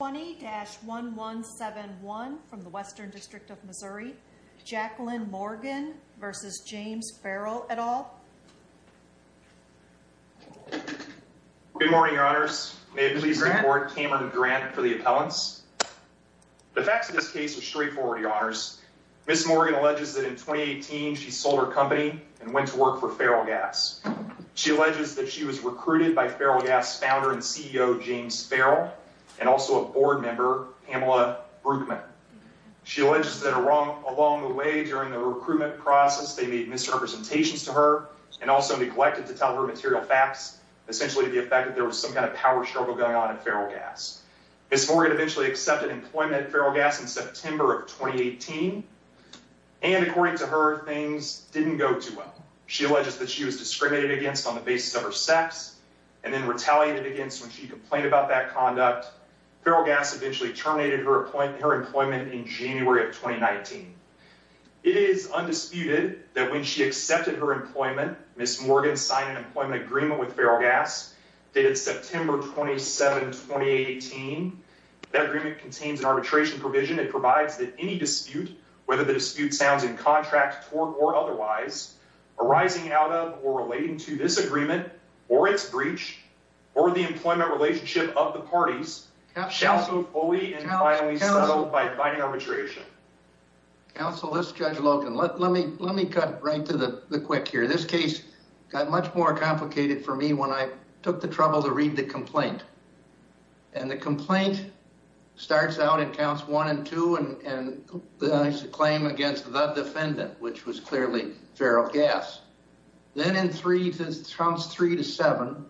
20-1171 from the Western District of Missouri, Jacqueline Morgan v. James Ferrell, et al. Good morning, Your Honors. May it please the Court, Cameron Grant for the appellants. The facts of this case are straightforward, Your Honors. Ms. Morgan alleges that in 2018 she sold her company and went to work for Ferrell Gas. She alleges that she was recruited by Ferrell Gas founder and CEO, James Ferrell, and also a board member, Pamela Bruckman. She alleges that along the way during the recruitment process, they made misrepresentations to her and also neglected to tell her material facts, essentially to the effect that there was some kind of power struggle going on at Ferrell Gas. Ms. Morgan eventually accepted employment at Ferrell Gas in September of 2018, and according to her, things didn't go too well. She alleges that she was discriminated against on the basis of her sex and then retaliated against when she complained about that conduct. Ferrell Gas eventually terminated her employment in January of 2019. It is undisputed that when she accepted her employment, Ms. Morgan signed an employment agreement with Ferrell Gas dated September 27, 2018. That agreement contains an arbitration provision. It provides that any dispute, whether the dispute sounds in contract, tort, or otherwise, arising out of or relating to this agreement or its breach, or the employment relationship of the parties, shall go fully and finally settled by binding arbitration. Counsel, this is Judge Logan. Let me cut right to the quick here. This case got much more complicated for me when I took the trouble to read the complaint. And the complaint starts out in counts one and two and claims against the defendant, which was clearly Ferrell Gas. Then in three, from three to seven,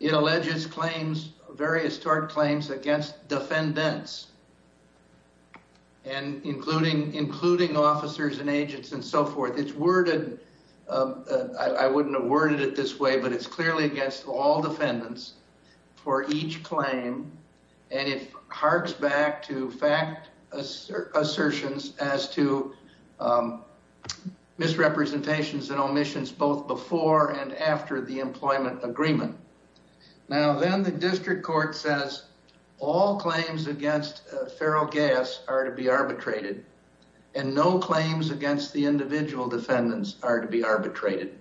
it alleges claims, various tort claims against defendants, including officers and agents and so forth. It's worded. I wouldn't have worded it this way, but it's clearly against all defendants for each claim. And it harks back to fact assertions as to misrepresentations and omissions, both before and after the employment agreement. Now, then the district court says all claims against Ferrell Gas are to be arbitrated and no claims against the individual defendants are to be arbitrated.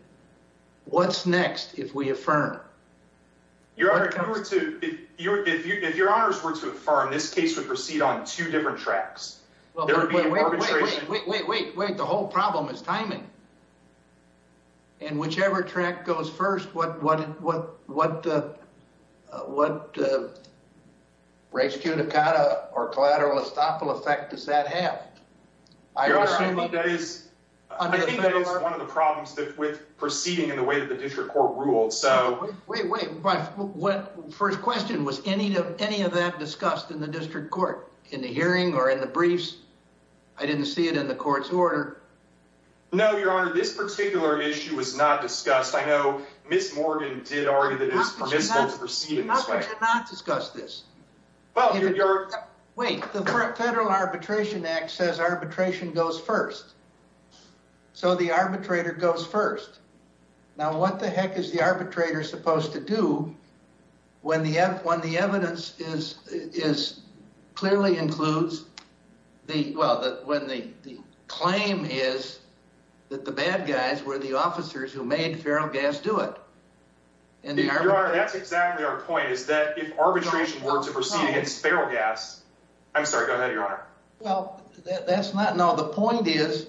What's next if we affirm? If your honors were to affirm, this case would proceed on two different tracks. Wait, wait, wait, wait. The whole problem is timing. And whichever track goes first, what, what, what, what, uh, what, uh, rescue Dakota or collateral estoppel effect does that have? I think that is one of the problems with proceeding in the way that the district court ruled. So wait, wait, wait. What first question was any of any of that discussed in the district court in the hearing or in the briefs? I didn't see it in the court's order. No, your honor, this particular issue was not discussed. I know Miss Morgan did argue that it is possible to proceed in this way, not discuss this. Well, wait, the federal arbitration act says arbitration goes first. So the arbitrator goes first. Now, what the heck is the arbitrator supposed to do? When the F one, the evidence is, is clearly includes the, well, that when the claim is that the bad guys were the officers who made feral gas, do it. And that's exactly our point is that if arbitration were to proceed against feral gas, I'm sorry, go ahead. Your honor. Well, that's not, no. The point is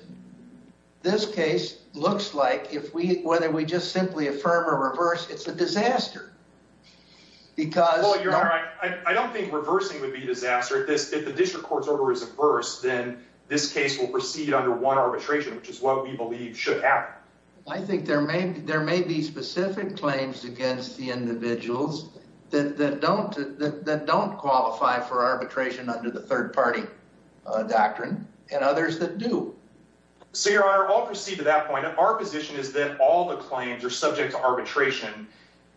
this case looks like if we, whether we just simply affirm or reverse, it's a disaster. Because I don't think reversing would be a disaster at this. If the district court's order is averse, then this case will proceed under one arbitration, which is what we believe should happen. I think there may be, there may be specific claims against the individuals that don't, that don't qualify for arbitration under the third party doctrine and others that do. So your honor, I'll proceed to that point. Our position is that all the claims are subject to arbitration.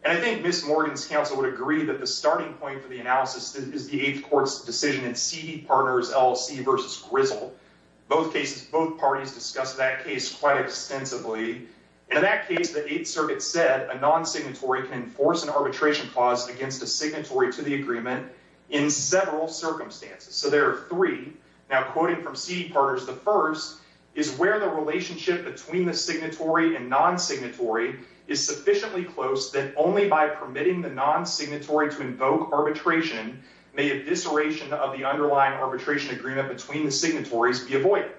And I think Miss Morgan's counsel would agree that the starting point for the analysis is the eighth court's decision in CD partners, LLC versus grizzle. Both cases, both parties discuss that case quite extensively. And in that case, the eighth circuit said a non-signatory can enforce an arbitration clause against a signatory to the agreement in several circumstances. So there are three. Now, quoting from CD partners, the first is where the relationship between the signatory and non-signatory is sufficiently close that only by permitting the non-signatory to invoke arbitration, may a disseration of the underlying arbitration agreement between the signatories be avoided.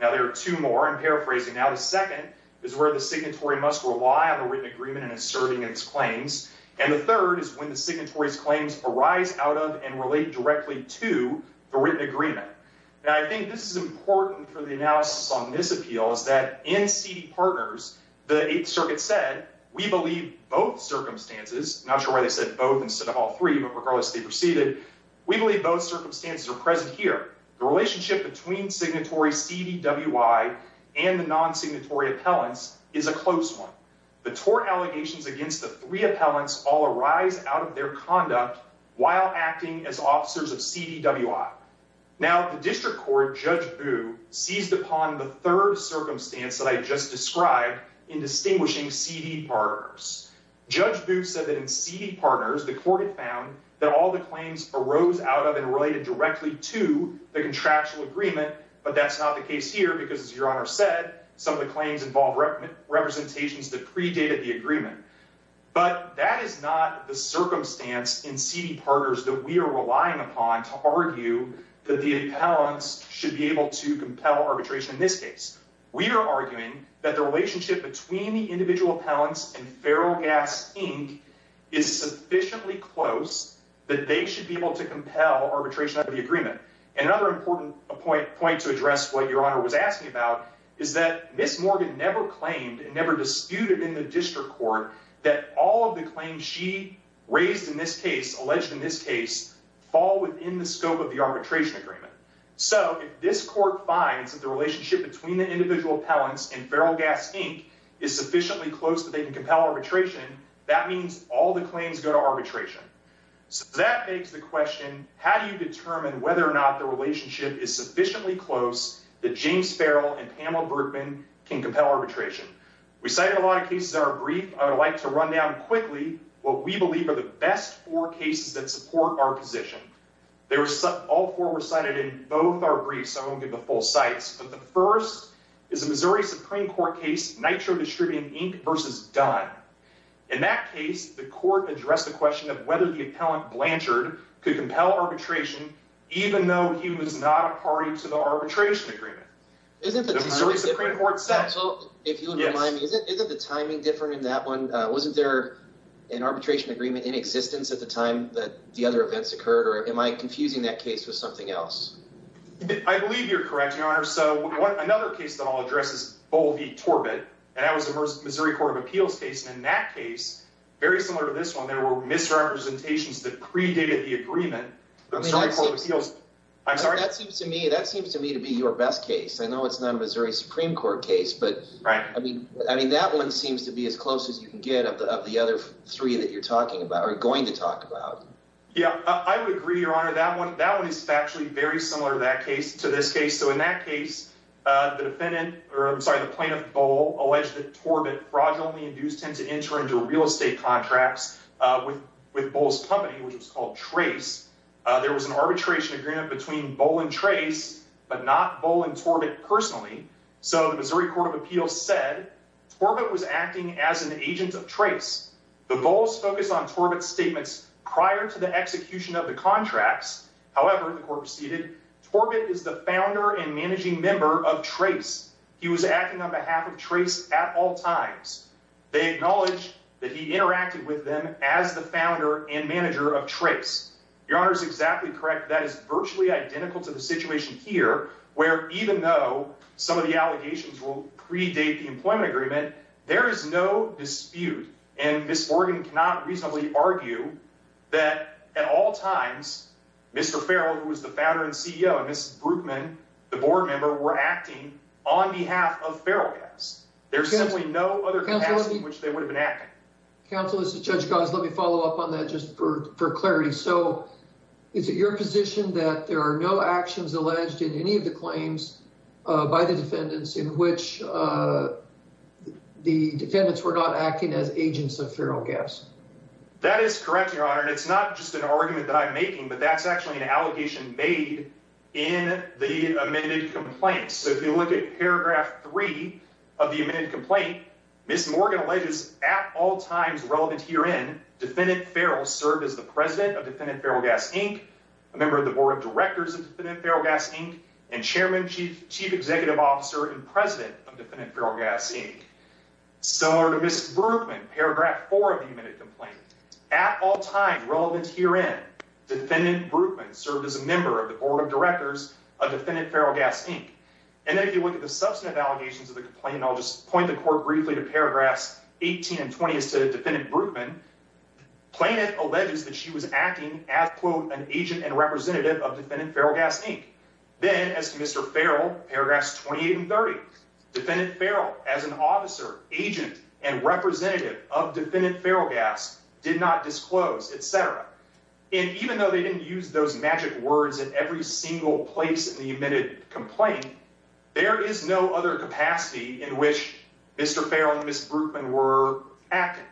Now, there are two more. I'm paraphrasing now. The second is where the signatory must rely on the written agreement in asserting its claims. And the third is when the signatory's claims arise out of and relate directly to the written agreement. Now, I think this is important for the analysis on this appeal is that in CD partners, the eighth circuit said, we believe both circumstances. Not sure why they said both instead of all three, but regardless, they proceeded. We believe both circumstances are present here. The relationship between signatory CDWI and the non-signatory appellants is a close one. The tort allegations against the three appellants all arise out of their conduct while acting as officers of CDWI. Now, the district court, Judge Boo, seized upon the third circumstance that I just described in distinguishing CD partners. Judge Boo said that in CD partners, the court had found that all the claims arose out of and related directly to the contractual agreement. But that's not the case here because, as Your Honor said, some of the claims involved representations that predated the agreement. But that is not the circumstance in CD partners that we are relying upon to argue that the appellants should be able to compel arbitration in this case. We are arguing that the relationship between the individual appellants and Feral Gas Inc. is sufficiently close that they should be able to compel arbitration under the agreement. And another important point to address what Your Honor was asking about is that Miss Morgan never claimed and never disputed in the district court that all of the claims she raised in this case, alleged in this case, fall within the scope of the arbitration agreement. So if this court finds that the relationship between the individual appellants and Feral Gas Inc. is sufficiently close that they can compel arbitration, that means all the claims go to arbitration. So that begs the question, how do you determine whether or not the relationship is sufficiently close that James Feral and Pamela Berkman can compel arbitration? We cited a lot of cases that are brief. I would like to run down quickly what we believe are the best four cases that support our position. All four were cited in both our briefs, so I won't give the full cites, but the first is a Missouri Supreme Court case, Nitro Distributing Inc. v. Dunn. In that case, the court addressed the question of whether the appellant Blanchard could compel arbitration even though he was not a party to the arbitration agreement. Isn't the timing different in that one? Wasn't there an arbitration agreement in existence at the time that the other events occurred, or am I confusing that case with something else? I believe you're correct, Your Honor. So another case that I'll address is Bol v. Torbett, and that was a Missouri Court of Appeals case. In that case, very similar to this one, there were misrepresentations that predated the agreement. That seems to me to be your best case. I know it's not a Missouri Supreme Court case, but that one seems to be as close as you can get of the other three that you're going to talk about. Yeah, I would agree, Your Honor. That one is actually very similar to this case. So in that case, the plaintiff, Bol, alleged that Torbett fraudulently induced him to enter into real estate contracts with Bol's company, which was called Trace. There was an arbitration agreement between Bol and Trace but not Bol and Torbett personally, so the Missouri Court of Appeals said Torbett was acting as an agent of Trace. The Bols focused on Torbett's statements prior to the execution of the contracts. However, the court proceeded, Torbett is the founder and managing member of Trace. He was acting on behalf of Trace at all times. They acknowledged that he interacted with them as the founder and manager of Trace. Your Honor is exactly correct. That is virtually identical to the situation here, where even though some of the allegations will predate the employment agreement, there is no dispute. And Ms. Morgan cannot reasonably argue that at all times, Mr. Farrell, who was the founder and CEO, and Ms. Brookman, the board member, were acting on behalf of Farrell Gas. There's simply no other capacity in which they would have been acting. Counsel, this is Judge Goss. Let me follow up on that just for clarity. So is it your position that there are no actions alleged in any of the claims by the defendants in which the defendants were not acting as agents of Farrell Gas? That is correct, Your Honor, and it's not just an argument that I'm making, but that's actually an allegation made in the amended complaint. So if you look at paragraph three of the amended complaint, Ms. Morgan alleges at all times relevant herein, defendant Farrell served as the president of defendant Farrell Gas, Inc., a member of the board of directors of defendant Farrell Gas, Inc., and chairman, chief executive officer, and president of defendant Farrell Gas, Inc. Similar to Ms. Brookman, paragraph four of the amended complaint, at all times relevant herein, defendant Brookman served as a member of the board of directors of defendant Farrell Gas, Inc. And then if you look at the substantive allegations of the complaint, and I'll just point the court briefly to paragraphs 18 and 20 as to defendant Brookman, plaintiff alleges that she was acting as, quote, an agent and representative of defendant Farrell Gas, Inc. Then, as to Mr. Farrell, paragraphs 28 and 30, defendant Farrell, as an officer, agent, and representative of defendant Farrell Gas, did not disclose, etc. And even though they didn't use those magic words at every single place in the amended complaint, there is no other capacity in which Mr. Farrell and Ms. Brookman were acting.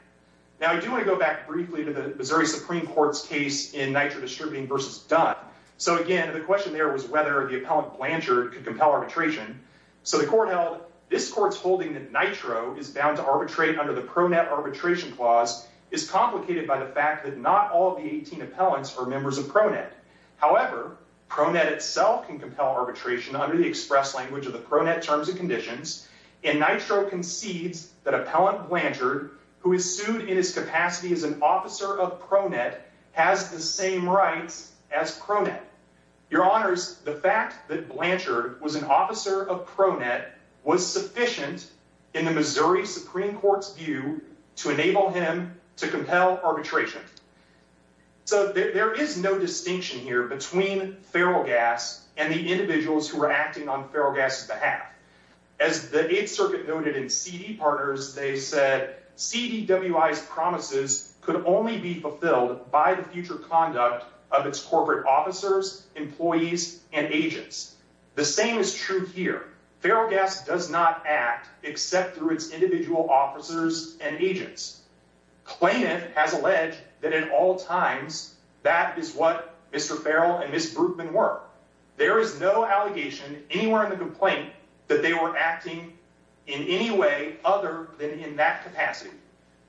Now, I do want to go back briefly to the Missouri Supreme Court's case in Nitro Distributing v. Dunn. So, again, the question there was whether the appellant Blanchard could compel arbitration. So the court held, this court's holding that Nitro is bound to arbitrate under the PRONET arbitration clause is complicated by the fact that not all of the 18 appellants are members of PRONET. However, PRONET itself can compel arbitration under the express language of the PRONET terms and conditions, and Nitro concedes that appellant Blanchard, who is sued in his capacity as an officer of PRONET, has the same rights as PRONET. Your Honors, the fact that Blanchard was an officer of PRONET was sufficient in the Missouri Supreme Court's view to enable him to compel arbitration. So there is no distinction here between Farrell Gas and the individuals who were acting on Farrell Gas's behalf. As the Eighth Circuit noted in C.D. Partners, they said, C.D.W.I.'s promises could only be fulfilled by the future conduct of its corporate officers, employees, and agents. The same is true here. Farrell Gas does not act except through its individual officers and agents. Klanit has alleged that in all times, that is what Mr. Farrell and Ms. Brueggemann were. There is no allegation anywhere in the complaint that they were acting in any way other than in that capacity.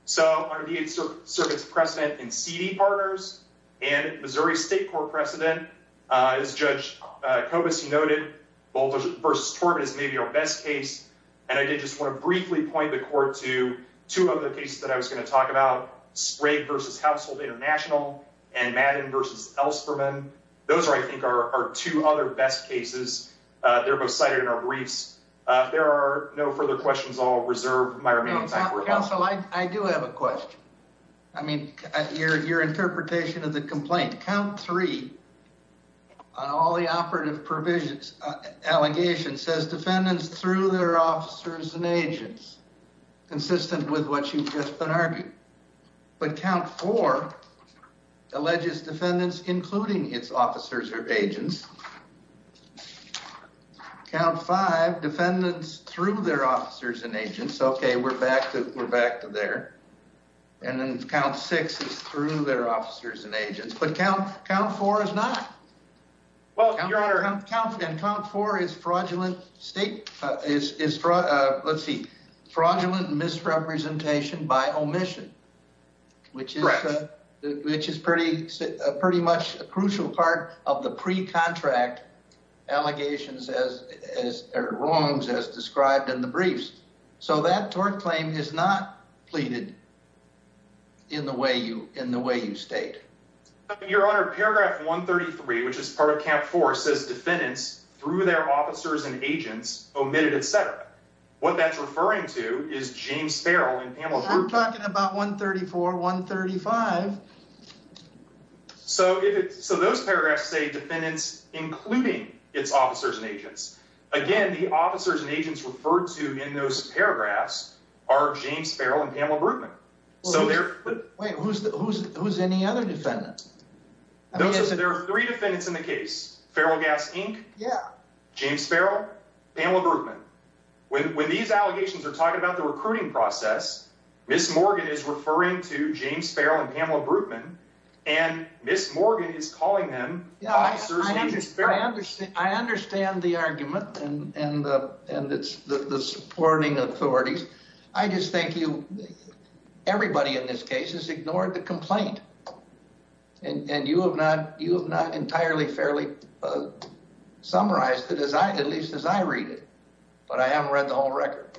So under the Eighth Circuit's precedent in C.D. Partners and Missouri State Court precedent, as Judge Kobus noted, Bolters v. Torbett is maybe our best case, and I did just want to briefly point the court to two other cases that I was going to talk about, Sprague v. Household International and Madden v. Elsperman. Those are, I think, our two other best cases. They're both cited in our briefs. If there are no further questions, I'll reserve my remaining time for questions. Counsel, I do have a question. I mean, your interpretation of the complaint. Count 3 on all the operative provisions, allegations, says defendants through their officers and agents, consistent with what you've just been arguing. But Count 4 alleges defendants including its officers or agents. Count 5, defendants through their officers and agents. OK, we're back to there. And then Count 6 is through their officers and agents. But Count 4 is not. Well, Your Honor. Count 4 is fraudulent misrepresentation by omission. Correct. Which is pretty much a crucial part of the pre-contract wrongs as described in the briefs. So that tort claim is not pleaded in the way you state. Your Honor, Paragraph 133, which is part of Count 4, says defendants through their officers and agents, omitted, etc. What that's referring to is James Sparrow and Pamela Hurd. I'm talking about 134, 135. So those paragraphs say defendants including its officers and agents. Again, the officers and agents referred to in those paragraphs are James Sparrow and Pamela Brutman. Wait, who's any other defendants? There are three defendants in the case. Feral Gas Inc., James Sparrow, Pamela Brutman. When these allegations are talking about the recruiting process, Ms. Morgan is referring to James Sparrow and Pamela Brutman. And Ms. Morgan is calling them officers and agents. I understand the argument and the supporting authorities. I just think everybody in this case has ignored the complaint. And you have not entirely fairly summarized it, at least as I read it. But I haven't read the whole record.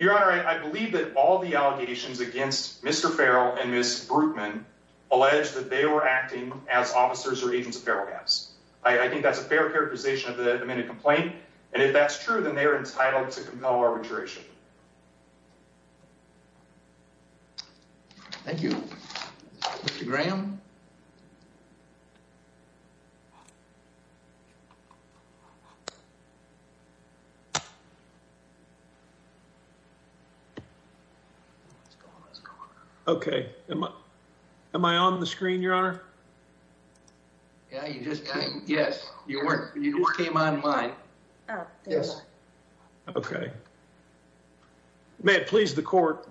Your Honor, I believe that all the allegations against Mr. Feral and Ms. Brutman allege that they were acting as officers or agents of Feral Gas. I think that's a fair characterization of the amended complaint. And if that's true, then they are entitled to compel arbitration. Thank you, Mr. Graham. Okay. Am I on the screen, Your Honor? Yeah, you just came online. Yes. Okay. May it please the court.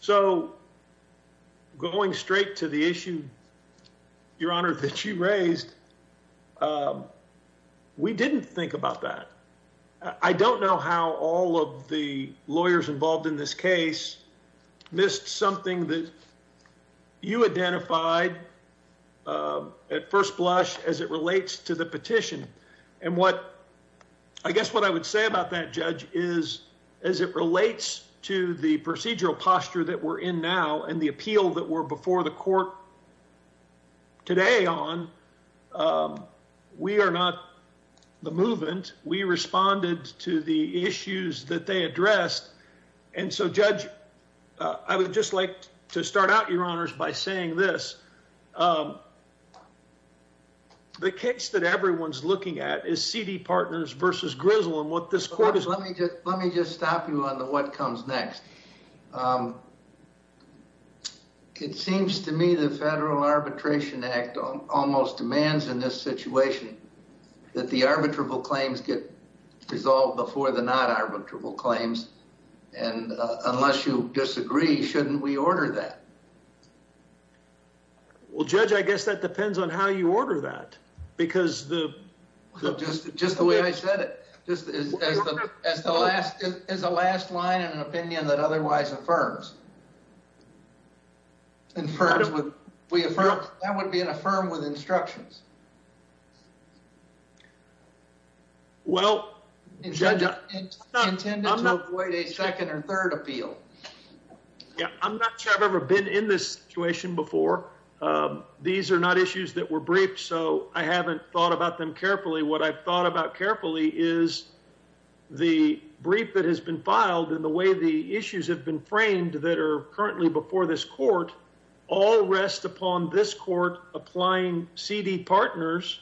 So, going straight to the issue, Your Honor, that you raised, we didn't think about that. I don't know how all of the lawyers involved in this case missed something that you identified at first blush as it relates to the petition. And what I guess what I would say about that, Judge, is as it relates to the procedural posture that we're in now and the appeal that we're before the court today on, we are not the movement. We responded to the issues that they addressed. And so, Judge, I would just like to start out, Your Honors, by saying this. The case that everyone's looking at is Seedy Partners versus Grizzle and what this court is... Let me just stop you on the what comes next. It seems to me the Federal Arbitration Act almost demands in this situation that the arbitrable claims get resolved before the not arbitrable claims. And unless you disagree, shouldn't we order that? Well, Judge, I guess that depends on how you order that. Just the way I said it, as the last line in an opinion that otherwise affirms. That would be an affirm with instructions. Intended to avoid a second or third appeal. I'm not sure I've ever been in this situation before. These are not issues that were briefed, so I haven't thought about them carefully. What I've thought about carefully is the brief that has been filed and the way the issues have been framed that are currently before this court. All rest upon this court applying Seedy Partners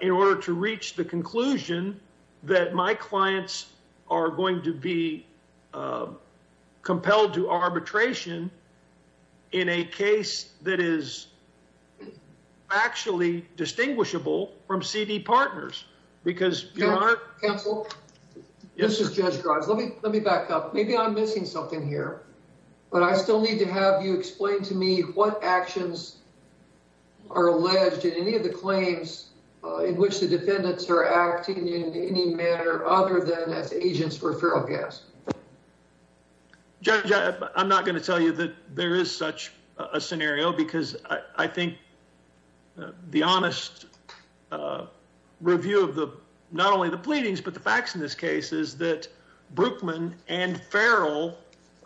in order to reach the conclusion that my clients are going to be compelled to arbitration in a case that is actually distinguishable from Seedy Partners. Counsel, this is Judge Grimes. Let me back up. Maybe I'm missing something here, but I still need to have you explain to me what actions are alleged in any of the claims in which the defendants are acting in any manner other than as agents for feral gas. Judge, I'm not going to tell you that there is such a scenario because I think the honest review of the not only the pleadings, but the facts in this case is that Brookman and feral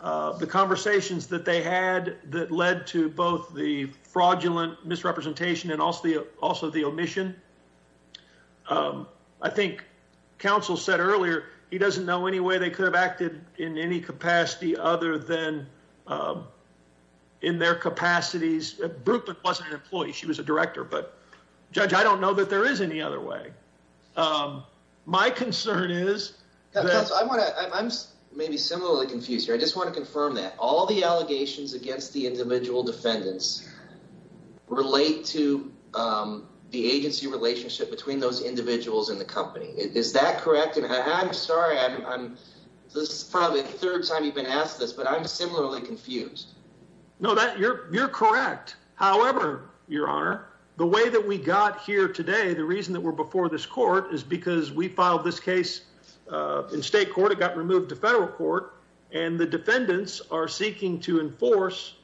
the conversations that they had that led to both the fraudulent misrepresentation and also the also the omission. I think counsel said earlier he doesn't know any way they could have acted in any capacity other than in their capacities. Brookman wasn't an employee. She was a director, but judge, I don't know that there is any other way. My concern is that I'm maybe similarly confused. I just want to confirm that all the allegations against the individual defendants relate to the agency relationship between those individuals in the company. Is that correct? And I'm sorry. This is probably the third time you've been asked this, but I'm similarly confused. No, that you're correct. However, your honor, the way that we got here today, the reason that we're before this court is because we filed this case in state court. It got removed to federal court, and the defendants are seeking to enforce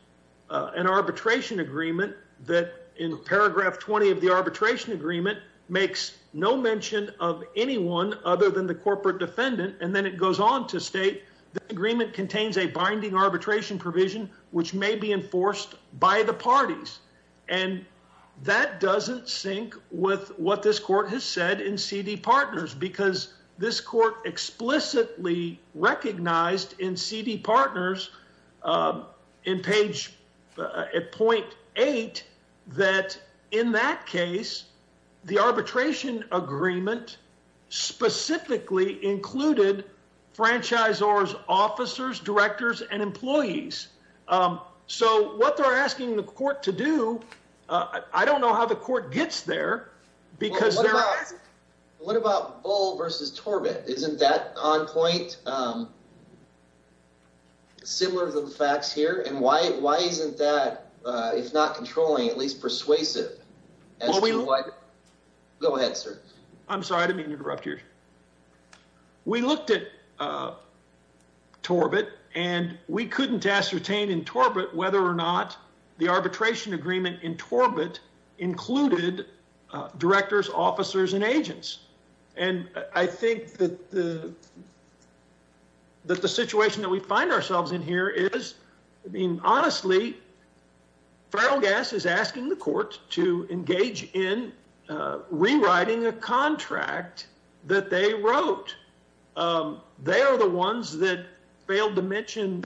an arbitration agreement that in paragraph 20 of the arbitration agreement makes no mention of anyone other than the corporate defendant. And then it goes on to state the agreement contains a binding arbitration provision, which may be enforced by the parties. And that doesn't sync with what this court has said in CD Partners, because this court explicitly recognized in CD Partners in page point eight that in that case, the arbitration agreement specifically included franchisors, officers, directors, and employees. So what they're asking the court to do. I don't know how the court gets there because they're asking. What about Bull versus Torbett? Isn't that on point? Similar to the facts here. And why? Why isn't that? It's not controlling, at least persuasive. Go ahead, sir. I'm sorry to interrupt you. We looked at. Torbett and we couldn't ascertain in Torbett whether or not the arbitration agreement in Torbett included directors, officers and agents. And I think that the. That the situation that we find ourselves in here is being honestly. Feral gas is asking the court to engage in rewriting a contract that they wrote. They are the ones that failed to mention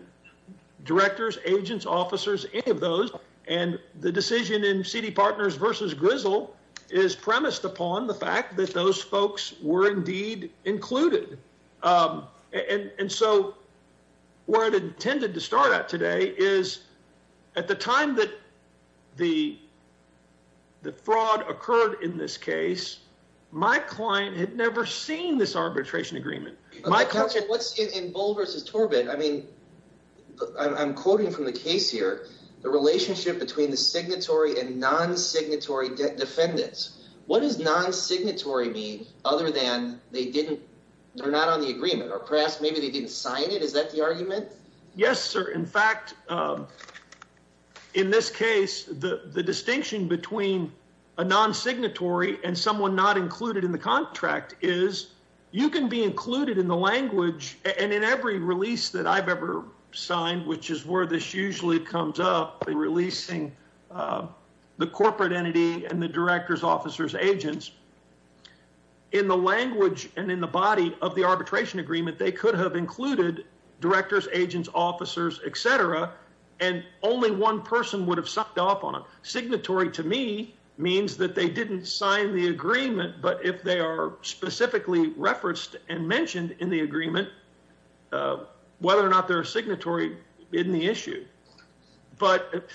directors, agents, officers, any of those. And the decision in CD Partners versus Grizzle is premised upon the fact that those folks were indeed included. And so. Where it intended to start out today is at the time that the. The fraud occurred in this case, my client had never seen this arbitration agreement. What's in Bull versus Torbett? I mean, I'm quoting from the case here. The relationship between the signatory and non signatory defendants. What is non signatory be other than they didn't? They're not on the agreement or perhaps maybe they didn't sign it. Is that the argument? Yes, sir. In fact. In this case, the distinction between a non signatory and someone not included in the contract is you can be included in the language. And in every release that I've ever signed, which is where this usually comes up, releasing the corporate entity and the directors, officers, agents. In the language and in the body of the arbitration agreement, they could have included directors, agents, officers, et cetera. And only one person would have sucked off on a signatory to me means that they didn't sign the agreement. But if they are specifically referenced and mentioned in the agreement, whether or not their signatory in the issue. But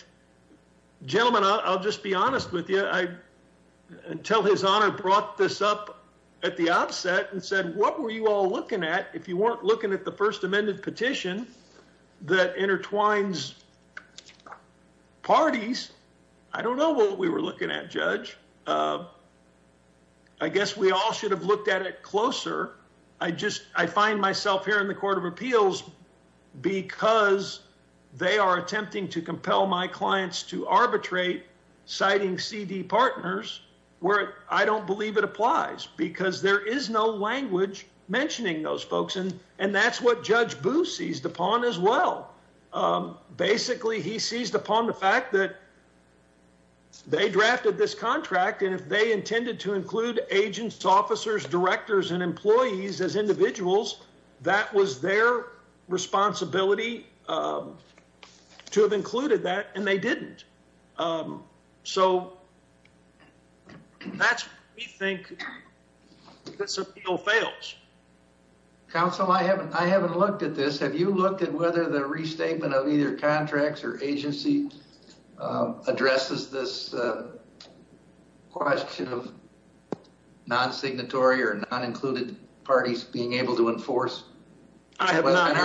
gentlemen, I'll just be honest with you. I tell his honor brought this up at the outset and said, what were you all looking at? If you weren't looking at the first amended petition that intertwines. Parties. I don't know what we were looking at, Judge. I guess we all should have looked at it closer. I just I find myself here in the court of appeals because they are attempting to compel my clients to arbitrate citing CD partners where I don't believe it applies because there is no language mentioning those folks. And and that's what Judge Booth seized upon as well. Basically, he seized upon the fact that. They drafted this contract, and if they intended to include agents, officers, directors and employees as individuals, that was their responsibility to have included that. And they didn't. So. That's what we think this appeal fails. Counsel, I haven't. I haven't looked at this. Have you looked at whether the restatement of either contracts or agency addresses this question of non-signatory or non-included parties being able to enforce? I have not.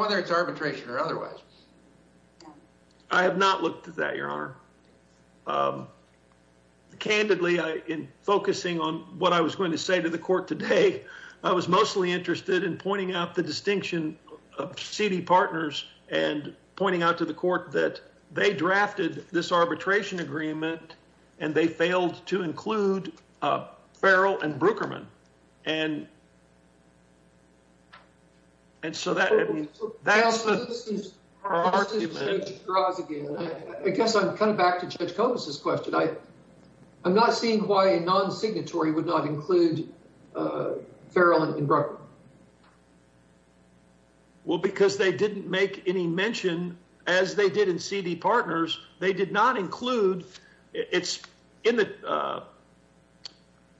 Whether it's arbitration or otherwise. I'm. Candidly, I am focusing on what I was going to say to the court today. I was mostly interested in pointing out the distinction of CD partners and pointing out to the court that they drafted this arbitration agreement and they failed to include Farrell and Brookerman. And. And so that that's. I guess I'm coming back to Judge Gomez's question. I. I'm not seeing why a non-signatory would not include Farrell and Brookerman. Well, because they didn't make any mention as they did in CD partners, they did not include it's in the.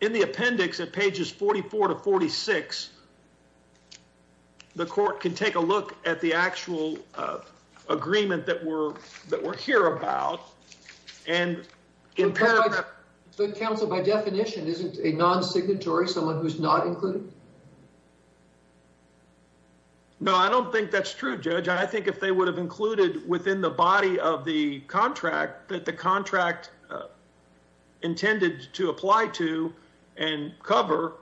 In the appendix at pages 44 to 46. The court can take a look at the actual agreement that we're that we're here about. And the council, by definition, isn't a non-signatory someone who's not included. No, I don't think that's true, Judge. I think if they would have included within the body of the contract that the contract intended to apply to and cover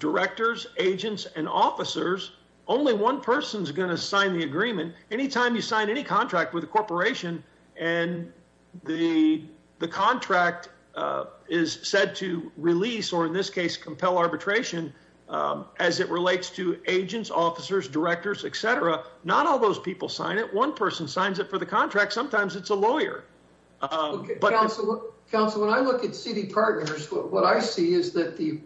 directors, agents and officers, only one person is going to sign the agreement. Anytime you sign any contract with a corporation and the the contract is said to release or in this case, compel arbitration as it relates to agents, officers, directors, et cetera. Not all those people sign it. One person signs up for the contract. Sometimes it's a lawyer. Council when I look at CD partners, what I see is that the.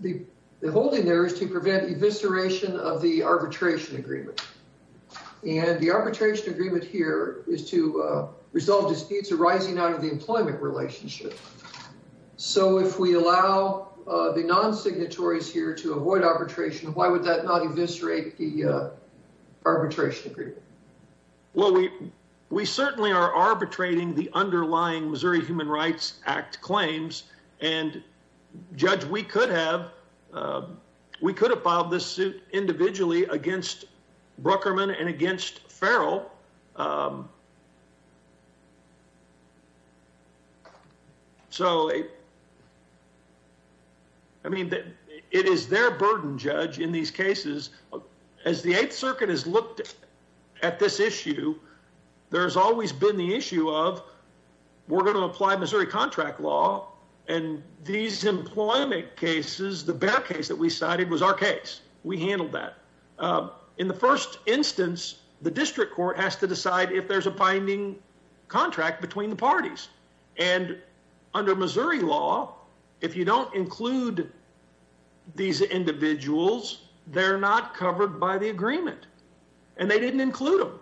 The holding there is to prevent evisceration of the arbitration agreement. And the arbitration agreement here is to resolve disputes arising out of the employment relationship. So if we allow the non-signatories here to avoid arbitration, why would that not eviscerate the arbitration? Well, we we certainly are arbitrating the underlying Missouri Human Rights Act claims and judge, we could have. We could have filed this suit individually against Brookerman and against Farrell. So. I mean, it is their burden judge in these cases. As the 8th Circuit has looked at this issue, there's always been the issue of we're going to apply Missouri contract law. And these employment cases, the bear case that we cited was our case. We handled that in the first instance, the district court has to decide if there's a binding contract between the parties. And under Missouri law, if you don't include these individuals, they're not covered by the agreement and they didn't include them.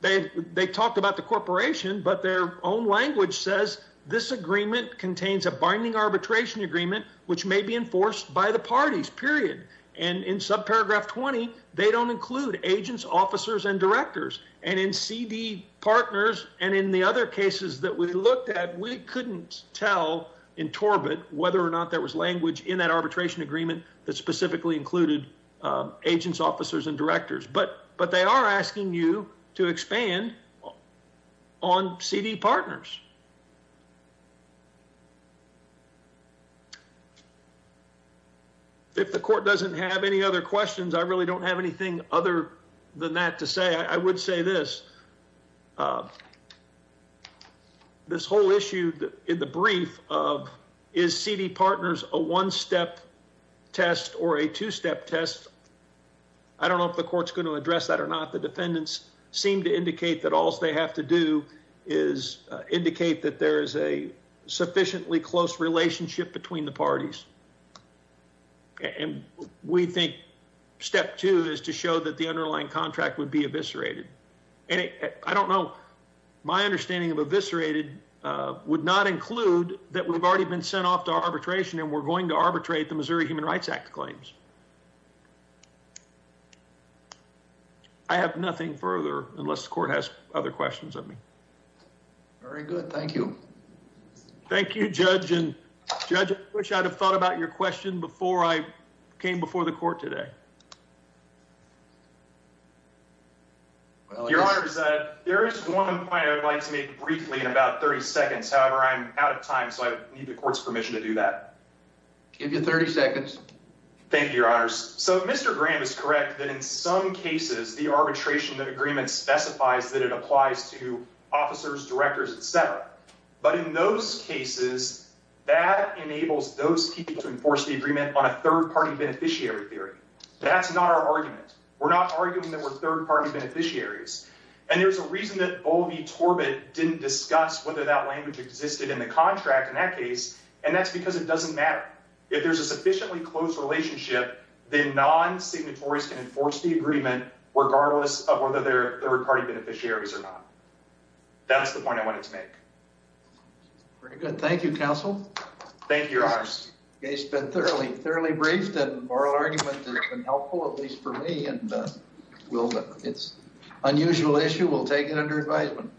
They they talked about the corporation, but their own language says this agreement contains a binding arbitration agreement, which may be enforced by the parties, period. And in subparagraph 20, they don't include agents, officers and directors. And in CD partners and in the other cases that we looked at, we couldn't tell in Torbett whether or not there was language in that arbitration agreement that specifically included agents, officers and directors. But but they are asking you to expand on CD partners. If the court doesn't have any other questions, I really don't have anything other than that to say, I would say this. This whole issue in the brief of is CD partners a one step test or a two step test? I don't know if the court's going to address that or not. The defendants seem to indicate that all they have to do is indicate that there is a sufficiently close relationship between the parties. And we think step two is to show that the underlying contract would be eviscerated. And I don't know my understanding of eviscerated would not include that we've already been sent off to arbitration and we're going to arbitrate the Missouri Human Rights Act claims. I have nothing further unless the court has other questions of me. Very good. Thank you. Thank you, Judge. And Judge, I wish I'd have thought about your question before I came before the court today. Well, your honor, is that there is one point I would like to make briefly in about 30 seconds. However, I'm out of time, so I need the court's permission to do that. Give you 30 seconds. Thank you, your honors. So Mr. Graham is correct that in some cases the arbitration that agreement specifies that it applies to officers, directors, etc. But in those cases that enables those people to enforce the agreement on a third party beneficiary theory. That's not our argument. We're not arguing that we're third party beneficiaries. And there's a reason that all the Torbett didn't discuss whether that language existed in the contract in that case. And that's because it doesn't matter. If there's a sufficiently close relationship, then non-signatories can enforce the agreement regardless of whether they're third party beneficiaries or not. That's the point I wanted to make. Very good. Thank you, counsel. Thank you, your honors. It's been thoroughly, thoroughly briefed and oral argument has been helpful, at least for me. And it's an unusual issue. We'll take it under advisement.